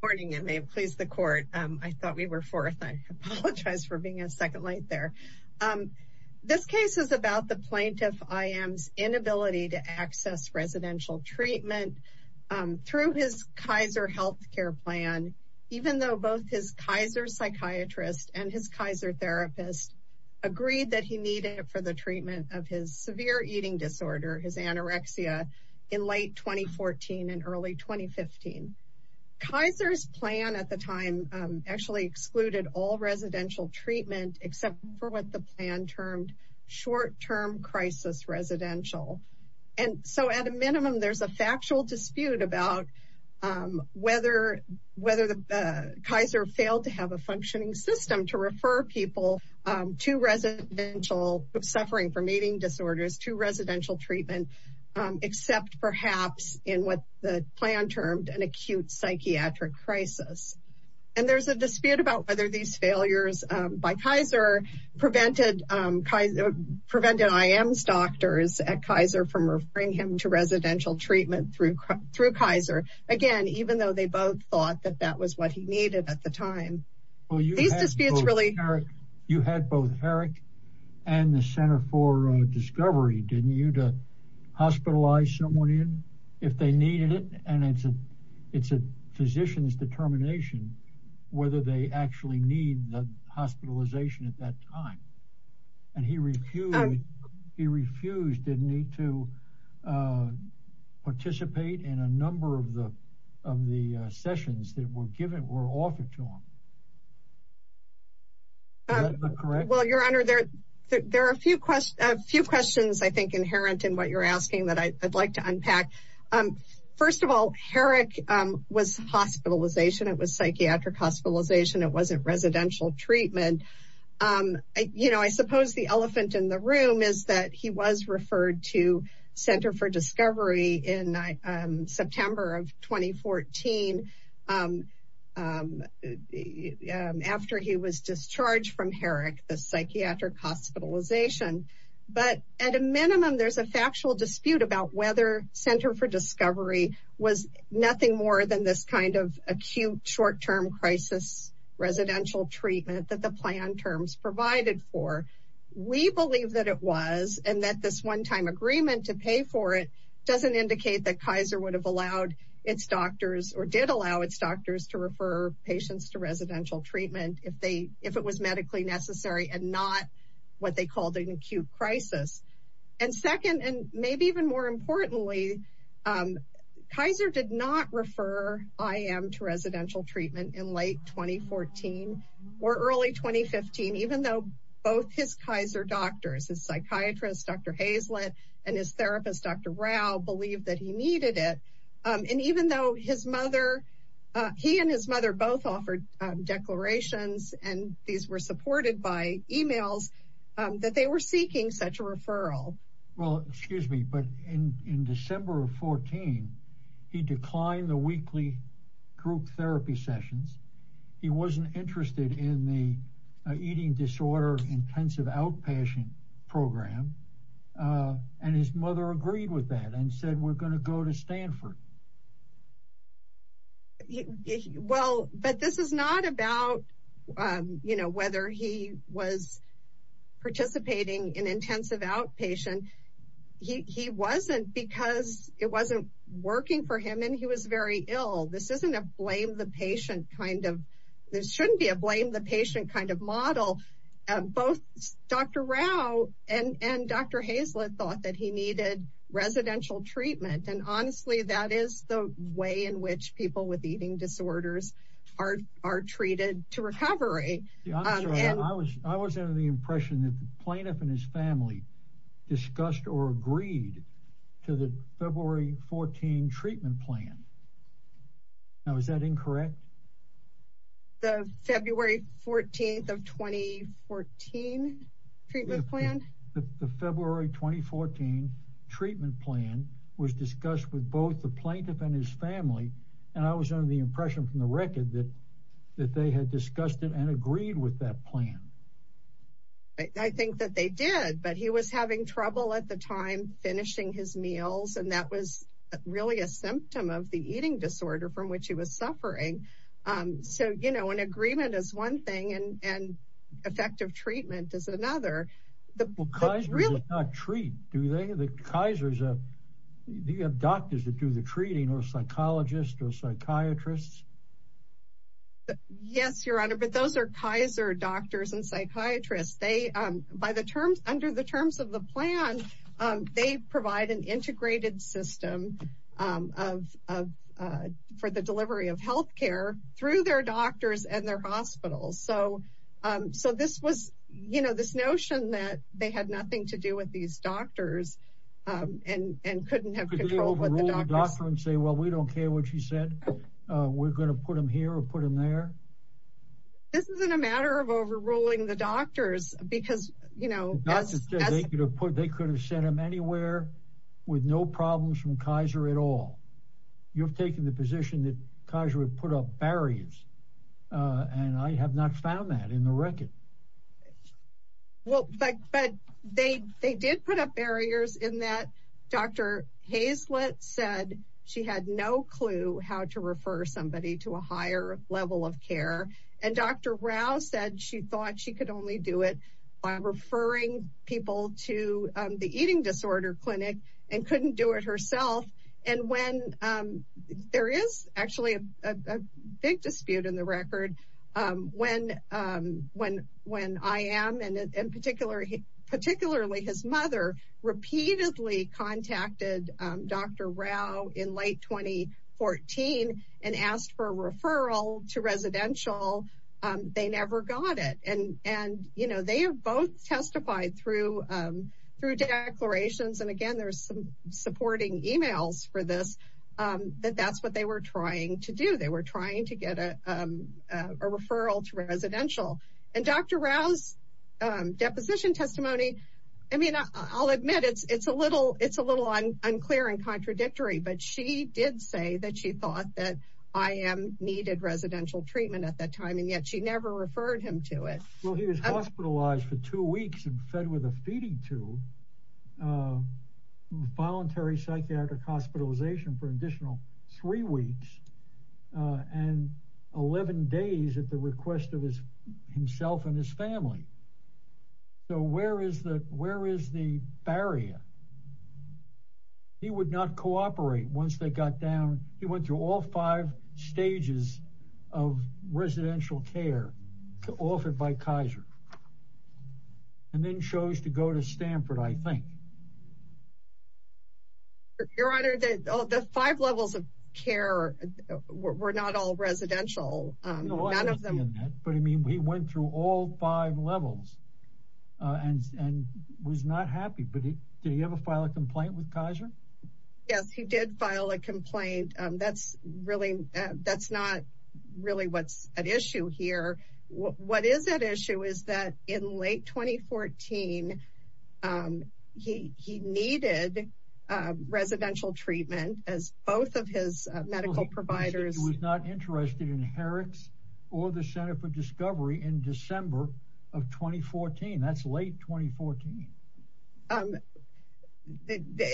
Good morning and may it please the court. I thought we were fourth. I apologize for being a second late there. This case is about the plaintiff I.M.'s inability to access residential treatment through his Kaiser health care plan, even though both his Kaiser psychiatrist and his Kaiser therapist agreed that he needed it for the treatment of his severe eating disorder, his anorexia, in late 2014 and early 2015. Kaiser's plan at the time actually excluded all residential treatment except for what the plan termed short-term crisis residential. And so at a minimum, there's a factual dispute about whether Kaiser failed to have a functioning system to refer people to residential suffering from eating disorders to residential treatment, except perhaps in what the plan termed an acute psychiatric crisis. And there's a dispute about whether these failures by Kaiser prevented I.M.'s doctors at Kaiser from referring him to residential treatment through Kaiser, again, even though they both thought that that was what he needed at the time. Well, you had both Herrick and the Center for Discovery, didn't you, to hospitalize someone in if they needed it? And it's a physician's determination whether they actually need the hospitalization at that time. And he refused, didn't he, to participate in a number of the sessions that were given, were offered to him. Well, your honor, there are a few questions, I think, inherent in what you're asking that I'd like to unpack. First of all, Herrick was hospitalization. It was psychiatric hospitalization. It wasn't residential treatment. You know, I suppose the elephant in the room is that he was hospitalized, again, after he was discharged from Herrick, the psychiatric hospitalization. But at a minimum, there's a factual dispute about whether Center for Discovery was nothing more than this kind of acute short-term crisis residential treatment that the plan terms provided for. We believe that it was, and that this one-time agreement to pay for it doesn't indicate that it's doctors to refer patients to residential treatment if it was medically necessary and not what they called an acute crisis. And second, and maybe even more importantly, Kaiser did not refer IM to residential treatment in late 2014 or early 2015, even though both his Kaiser doctors, his psychiatrist, Dr. Hazlett, and his therapist, Dr. Rao, believed that he needed it. And even though his mother, he and his mother both offered declarations, and these were supported by emails, that they were seeking such a referral. Well, excuse me, but in December of 14, he declined the weekly group therapy sessions. He wasn't interested in the eating disorder intensive outpatient program. And his mother agreed with that and said, we're going to go to Stanford. Well, but this is not about, you know, whether he was participating in intensive outpatient. He wasn't because it wasn't working for him, and he was very ill. This isn't a blame the patient kind of, this shouldn't be a blame the patient kind of model. Both Dr. Rao and Dr. Hazlett thought that he needed residential treatment. And honestly, that is the way in which people with eating disorders are treated to recovery. I was under the impression that the plaintiff and his family discussed or agreed to the February 14 treatment plan. Now, is that incorrect? The February 14 of 2014 treatment plan? The February 2014 treatment plan was discussed with both the plaintiff and his family. And I was under the impression from the record that they had discussed it and agreed with that plan. I think that they did, but he was having trouble at the time finishing his meals. And that was really a symptom of the eating disorder from which he was suffering. So, you know, an agreement is one thing and effective treatment is another. Well, Kaiser does not treat, do they? Do you have doctors that do the treating or psychologists or psychiatrists? Yes, Your Honor, but those are Kaiser doctors and psychiatrists. Under the terms of the plan, they provide an integrated system for the delivery of health care through their doctors and their hospitals. So this was, you know, this notion that they had nothing to do with these doctors and couldn't have control with the doctor and say, well, we don't care what you said. We're going to put them here or put them there. This isn't a matter of overruling the they could have sent them anywhere with no problems from Kaiser at all. You've taken the position that Kaiser would put up barriers. And I have not found that in the record. Well, but they did put up barriers in that Dr. Hazlett said she had no clue how to refer somebody to a higher level of care. And Dr. Rao said she thought she could only do it by referring people to the eating disorder clinic and couldn't do it herself. And when there is actually a big dispute in the record, when I am and particularly his mother repeatedly contacted Dr. Rao in late 2014 and asked for a referral to residential, they never got it. And and, you know, they have both testified through through declarations. And again, there's some supporting emails for this, that that's what they were trying to do. They were trying to get a referral to residential and Dr. Rao's deposition testimony. I mean, I'll admit it's it's a little it's a little unclear and contradictory, but she did say that she thought that I am needed residential treatment at that time, and yet she never referred him to it. Well, he was hospitalized for two weeks and fed with a feeding tube, voluntary psychiatric hospitalization for additional three weeks and 11 days at the request of his himself and his family. So where is the where is the barrier? He would not cooperate once they got down. He went through all five stages of residential care offered by Kaiser and then chose to go to Stanford, I think. Your Honor, the five levels of care were not all residential. None of them. But I mean, he went through all five levels and and was not happy. But did he ever file a complaint with Kaiser? Yes, he did file a complaint. That's really that's not really what's at issue here. What is at issue is that in late 2014, he he needed residential treatment as both of his medical providers was not interested in Herrick's or the Center for Discovery in December of 2014. That's late 2014.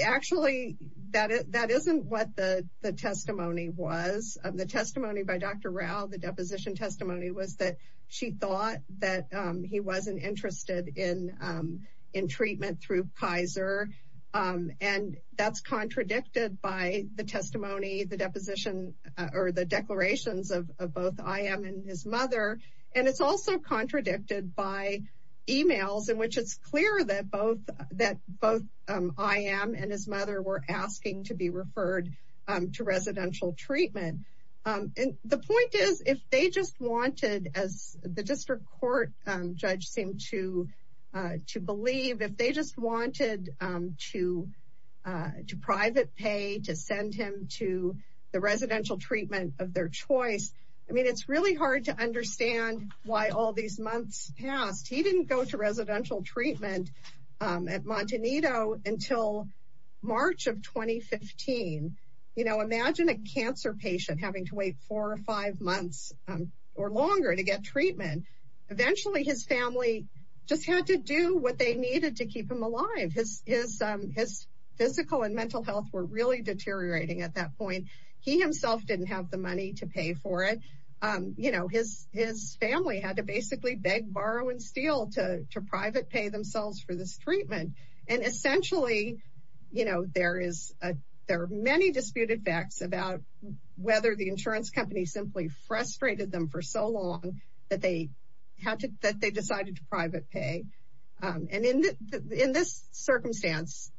Actually, that is that isn't what the testimony was of the testimony by Dr. Rao. The deposition testimony was that she thought that he wasn't interested in in treatment through Kaiser. And that's contradicted by the testimony, the deposition, or the declarations of both I am and his mother. And it's also contradicted by emails in which it's clear that both that both I am and his mother were asking to be referred to residential treatment. And the point is, if they just wanted as the district court judge seemed to, to believe if they just wanted to, to private pay to send him to the residential treatment of their choice. I mean, it's really hard to understand why all these months past he didn't go to residential treatment at Montanito until March of 2015. You know, get treatment. Eventually, his family just had to do what they needed to keep him alive. His physical and mental health were really deteriorating at that point. He himself didn't have the money to pay for it. You know, his his family had to basically beg, borrow and steal to private pay themselves for this treatment. And essentially, you know, there is a there are many disputed facts about whether the insurance company simply frustrated them for so long that they had to that they decided to private pay. And in this circumstance,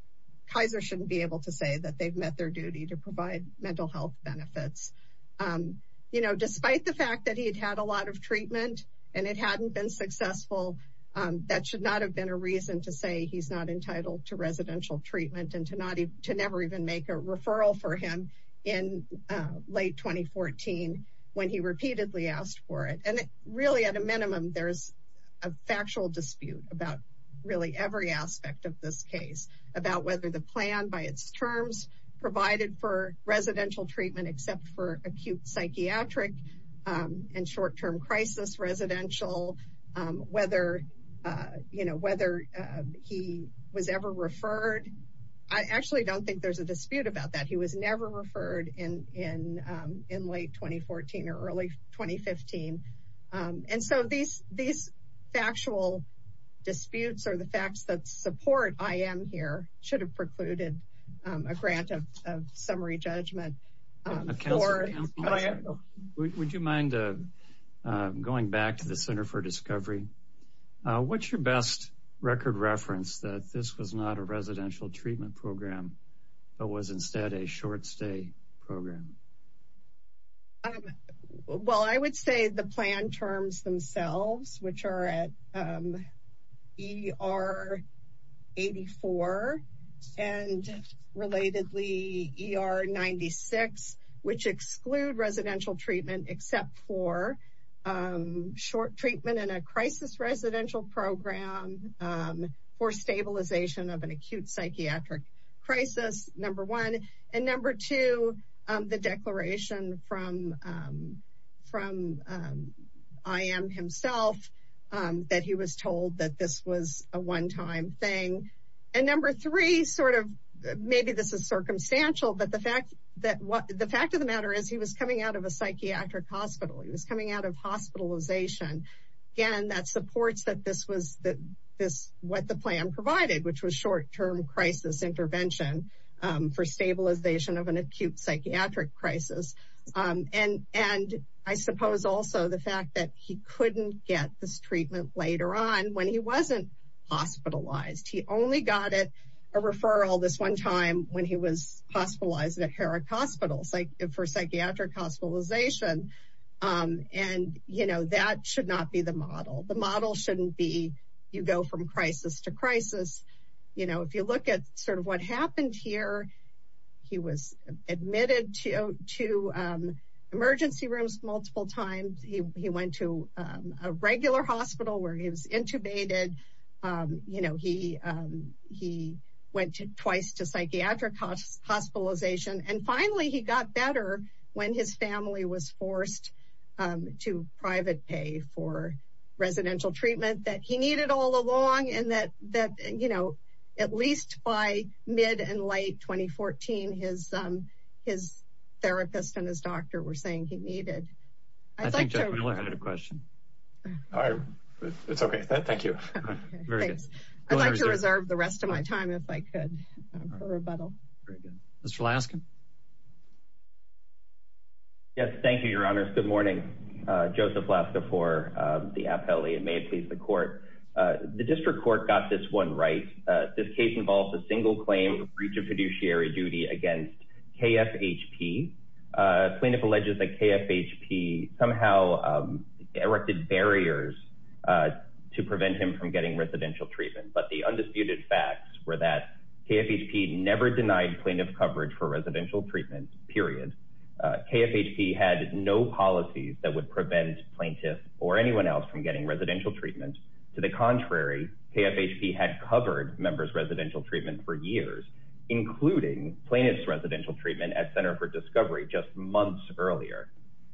Kaiser shouldn't be able to say that they've met their duty to provide mental health benefits. You know, despite the fact that he had had a lot of treatment and it hadn't been successful, that should not have been a reason to say he's not entitled to residential treatment and to not to never even make a referral for him in late 2014 when he repeatedly asked for it. And really, at a minimum, there's a factual dispute about really every aspect of this case about whether the plan by its terms provided for residential treatment except for acute psychiatric and short don't think there's a dispute about that. He was never referred in in in late 2014 or early 2015. And so these these factual disputes are the facts that support I am here should have precluded a grant of summary judgment. Would you mind going back to the Center for Discovery? What's your best record reference that this was not a residential treatment program, but was instead a short stay program? Well, I would say the plan terms themselves, which are at E.R. 84 and relatedly E.R. 96, which exclude residential treatment except for short treatment in a crisis residential program for stabilization of an acute psychiatric crisis, number one. And number two, the declaration from from I.M. himself that he was told that this was a one time thing. And number three, sort of maybe this is circumstantial, but the fact that the fact of the matter is he was coming out of a psychiatric hospital. He was coming out of hospitalization. Again, that supports that this was that this what the plan provided, which was short term crisis intervention for stabilization of an acute psychiatric crisis. And and I suppose also the fact that he couldn't get this treatment later on when he wasn't hospitalized. He only got it a referral this one time when he was hospitalized at Herrick for psychiatric hospitalization. And, you know, that should not be the model. The model shouldn't be. You go from crisis to crisis. You know, if you look at sort of what happened here, he was admitted to two emergency rooms multiple times. He went to a regular hospital where he was intubated. You know, he he went twice to psychiatric hospitalization. And finally, he got better when his family was forced to private pay for residential treatment that he needed all along and that that, you know, at least by mid and late 2014, his his therapist and his thank you. I'd like to reserve the rest of my time if I could for rebuttal. Mr. Laskin. Yes, thank you, Your Honor. Good morning, Joseph Laskin for the appellee and may it please the court. The district court got this one right. This case involves a single claim breach of fiduciary duty against KFHP. Plaintiff alleges that KFHP somehow erected barriers to prevent him from getting residential treatment. But the undisputed facts were that KFHP never denied plaintiff coverage for residential treatment, period. KFHP had no policies that would prevent plaintiff or anyone else from getting residential treatment. To the contrary, KFHP had covered members residential treatment for years, including plaintiff's residential treatment at Center for Discovery just months earlier.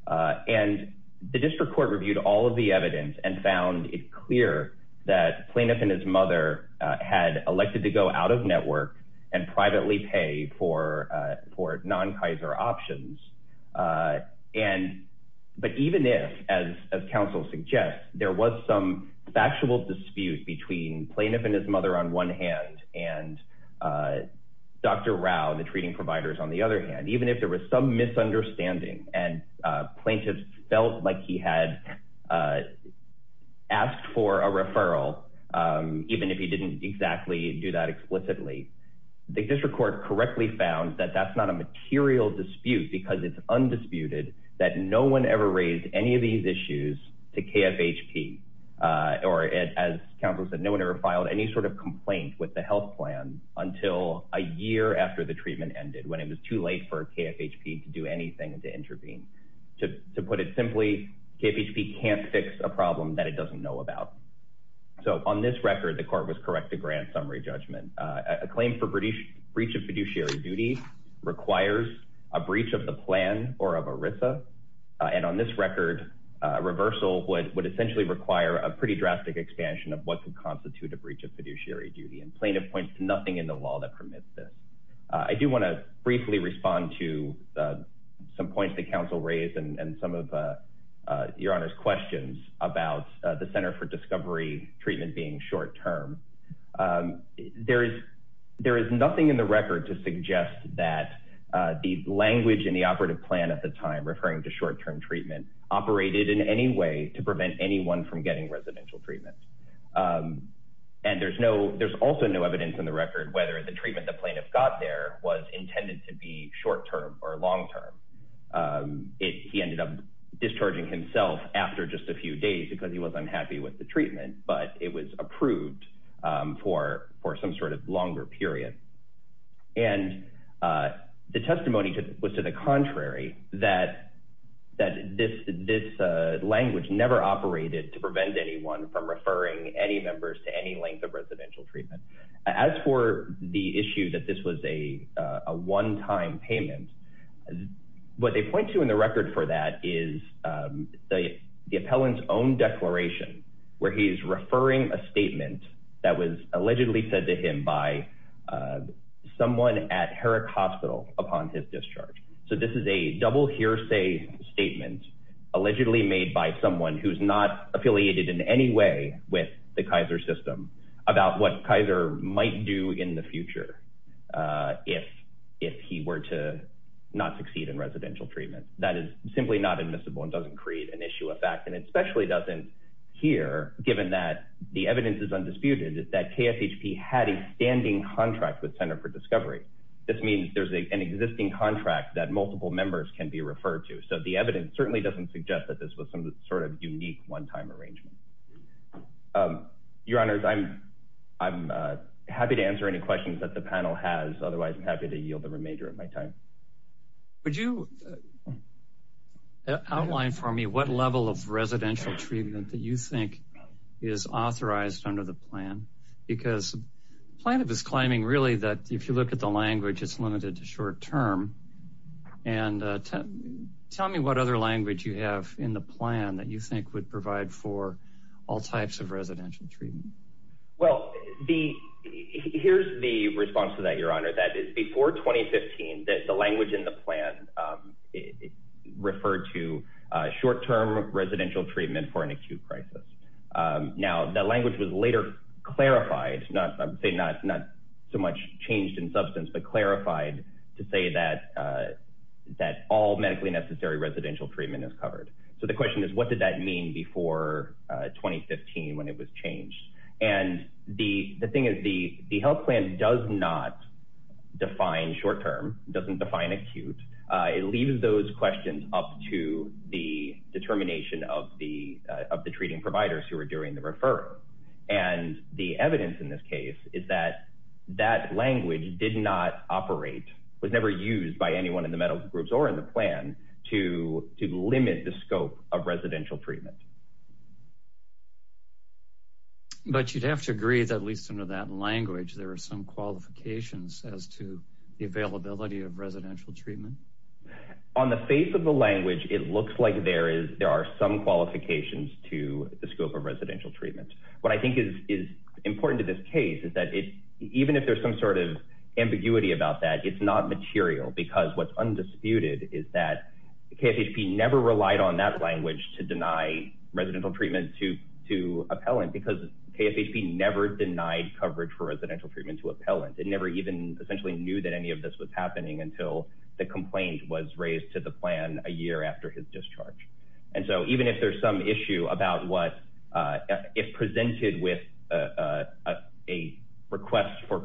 And the district court reviewed all of the evidence and found it clear that plaintiff and his mother had elected to go out of network and privately pay for for non-kaiser options. And but even if, as counsel suggests, there was some factual dispute between plaintiff and his mother on one hand and Dr. Rao, the treating providers on the other hand, even if there was some misunderstanding and plaintiff felt like he had asked for a referral, even if he didn't exactly do that explicitly, the district court correctly found that that's not a material dispute because it's undisputed that no one ever raised any of these issues to KFHP. Or as counsel said, no one ever filed any sort of complaint with the health plan until a year after the treatment ended, when it was too for KFHP to do anything to intervene. To put it simply, KFHP can't fix a problem that it doesn't know about. So on this record, the court was correct to grant summary judgment. A claim for breach of fiduciary duty requires a breach of the plan or of ERISA. And on this record, reversal would essentially require a pretty drastic expansion of what could constitute a breach of fiduciary duty. And plaintiff points to nothing in the law that permits this. I do want to briefly respond to some points that counsel raised and some of your honor's questions about the center for discovery treatment being short-term. There is nothing in the record to suggest that the language in the operative plan at the time, referring to short-term treatment, operated in any way to prevent anyone from getting residential treatment. And there's also no evidence in the record whether the treatment the plaintiff got there was intended to be short-term or long-term. He ended up discharging himself after just a few days because he was unhappy with the treatment, but it was approved for some sort of longer period. And the testimony was to the contrary, that this language never operated to prevent anyone from referring any members to any length of residential treatment. As for the issue that this was a one-time payment, what they point to in the record for that is the appellant's own declaration where he's referring a statement that was allegedly said to him by someone at Herrick Hospital upon his discharge. So this is a double hearsay statement allegedly made by someone who's not affiliated in any way with the Kaiser system about what Kaiser might do in the future. If he were to not succeed in residential treatment, that is simply not admissible and doesn't create an issue of fact and especially doesn't here, given that the evidence is undisputed, that KFHP had a standing contract with Center for Discovery. This means there's an existing contract that multiple members can be referred to. So the evidence certainly doesn't suggest that this was some sort of unique one-time arrangement. Your Honors, I'm happy to answer any questions that the panel has. Otherwise, I'm happy to yield the remainder of my time. Would you outline for me what level of residential treatment that you think is authorized under the plan? Because plaintiff is claiming really that if you look at the language, it's limited to short term. And tell me what other language you have in the plan that you think would provide for all types of residential treatment. Well, here's the response to that, Your Honor. That is, before 2015, the language in the plan referred to short-term residential treatment for an acute crisis. Now, that language was later clarified, not so much changed in substance, but clarified to say that all medically necessary residential treatment is covered. So the question is, what did that mean before 2015 when it was changed? And the thing is, the health plan does not define short-term, doesn't define acute. It leaves those questions up to the determination of the treating providers who are doing the referral. And the evidence in this case is that that language did not operate, was never used by anyone in the medical groups or in the plan to limit the scope of residential treatment. But you'd have to agree that at least under that language, there are some qualifications as to the availability of residential treatment. On the face of the language, it looks like there are some qualifications to the scope of residential treatment. What I think is important to this case is that even if there's some sort of ambiguity about that, it's not material because what's undisputed is that KFHP never relied on that language to deny residential treatment to appellant because KFHP never denied coverage for residential treatment to appellant. It never even essentially knew that any of this was happening until the complaint was raised to the plan a year after his discharge. And so even if there's some issue about what, if presented with a request for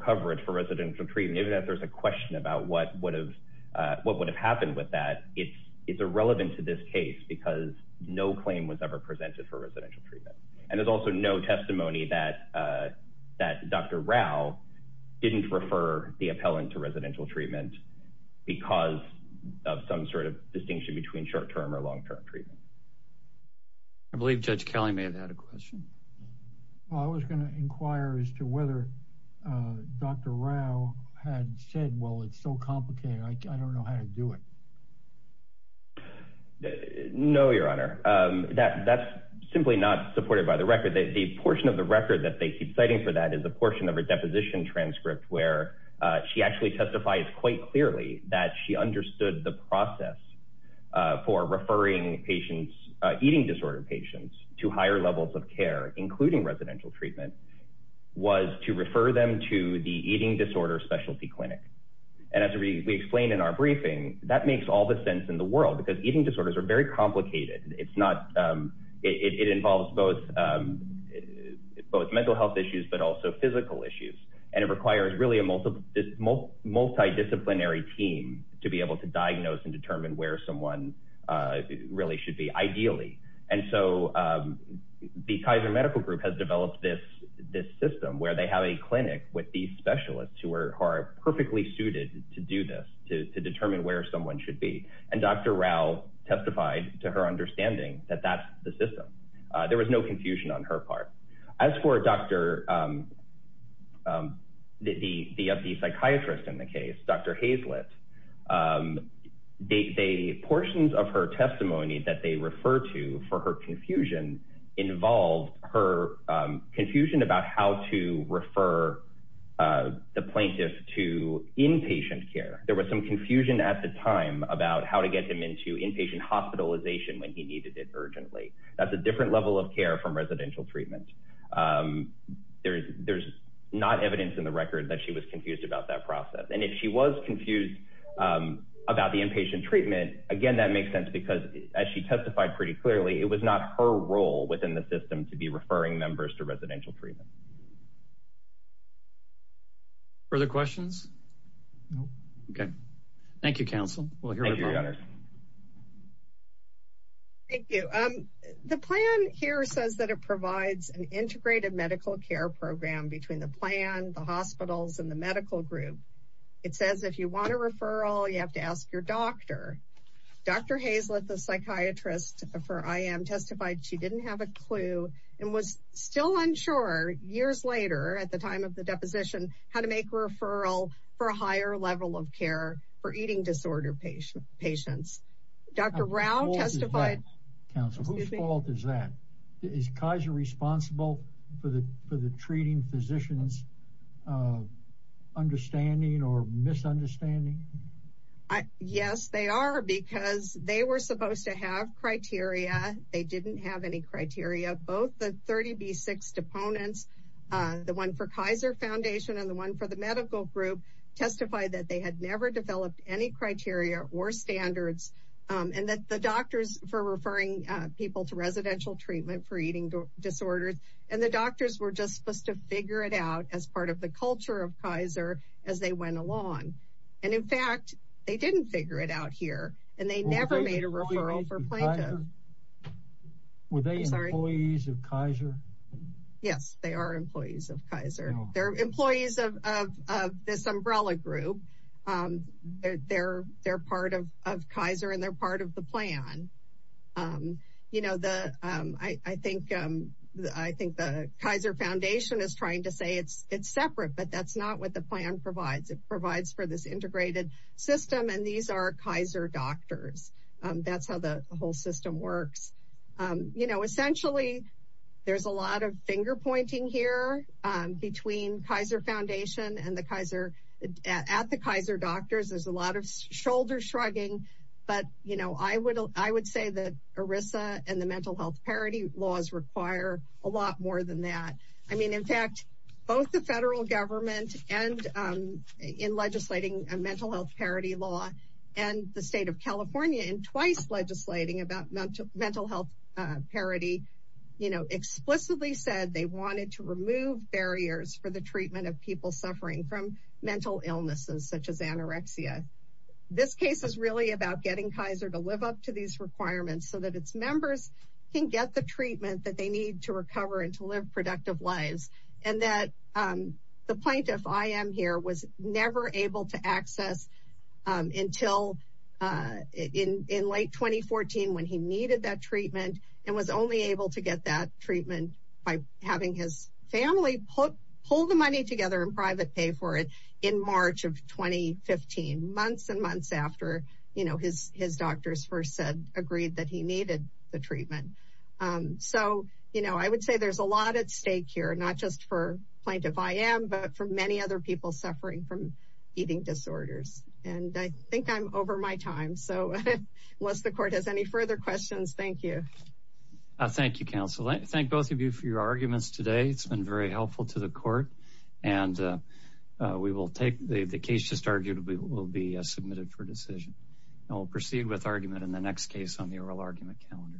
residential treatment, even if there's a question about what would have happened with that, it's irrelevant to this case because no claim was ever presented for residential treatment. And there's also no testimony that Dr. Rao didn't refer the appellant to residential treatment because of some sort of distinction between short-term or long-term treatment. Well, I was going to inquire as to whether Dr. Rao had said, well, it's so complicated, I don't know how to do it. No, your honor. That's simply not supported by the record. The portion of the record that they keep citing for that is a portion of her deposition transcript where she actually testifies quite clearly that she understood the process for referring patients, eating disorder patients, to higher levels of care, including residential treatment, was to refer them to the eating disorder specialty clinic. And as we explained in our briefing, that makes all the sense in the world because eating disorders are very complicated. It's not, it involves both mental health issues, but also physical issues. And it requires really a multidisciplinary team to be able to diagnose and determine where someone really should be, ideally. And so the Kaiser Medical Group has developed this system where they have a clinic with these specialists who are perfectly suited to do this, to determine where someone should be. And Dr. Rao testified to her understanding that that's the system. There was no confusion on her part. As for Dr., the psychiatrist in the case, Dr. Hazlett, the portions of her testimony that they refer to for her confusion involved her confusion about how to refer the plaintiff to inpatient care. There was some confusion at the time about how to get him into inpatient hospitalization when he needed it urgently. That's a different level of care from residential treatment. There's not evidence in the record that she was confused about that process. And if she was confused about the inpatient treatment, again, that makes sense because as she testified pretty clearly, it was not her role within the system to be referring members to residential treatment. Further questions? No. Okay. Thank you, Council. Thank you, Your Honors. Thank you. The plan here says that it provides an integrated medical care program between the plan, the hospitals, and the medical group. It says if you want a referral, you have to ask your doctor. Dr. Hazlett, the psychiatrist for IM, testified she didn't have a clue and was still unsure years later at the time of the deposition how to make a referral for a higher level of care for eating disorder patients. Dr. Rao testified. Whose fault is that? Is Kaiser responsible for the treating physicians' understanding or misunderstanding? Yes, they are because they were supposed to have criteria. They didn't have any criteria. Both the 30B6 deponents, the one for Kaiser Foundation and the one for the medical group, testified that they had never developed any criteria or standards and that the doctors for referring people to residential treatment for as part of the culture of Kaiser as they went along. In fact, they didn't figure it out here and they never made a referral for plaintiff. Were they employees of Kaiser? Yes, they are employees of Kaiser. They're employees of this umbrella group. They're part of Kaiser and they're I think the Kaiser Foundation is trying to say it's separate, but that's not what the plan provides. It provides for this integrated system and these are Kaiser doctors. That's how the whole system works. You know, essentially, there's a lot of finger pointing here between Kaiser Foundation at the Kaiser doctors. There's a lot of shoulder shrugging, but you know, I would say that ERISA and the mental health parity laws require a lot more than that. I mean, in fact, both the federal government and in legislating a mental health parity law and the state of California in twice legislating about mental health parity, you know, explicitly said they wanted to remove barriers for the treatment of people suffering from mental illnesses, such as anorexia. This case is really about getting Kaiser to live up to these requirements so that its members can get the treatment that they need to recover and to live productive lives and that the plaintiff I am here was never able to access until in late 2014 when he needed that treatment and was only able to get that treatment by having his family pull the money together and private pay for it in March of 2015. Months and months after, you know, his doctors first said, agreed that he needed the treatment. So, you know, I would say there's a lot at stake here, not just for plaintiff I am, but for many other people suffering from eating disorders. And I think I'm over my time. So unless the court has any further questions, thank you. Thank you, counsel. I thank both of you for your arguments today. It's been very helpful to the court and we will take the case just argued will be submitted for decision. And we'll proceed with the oral argument calendar.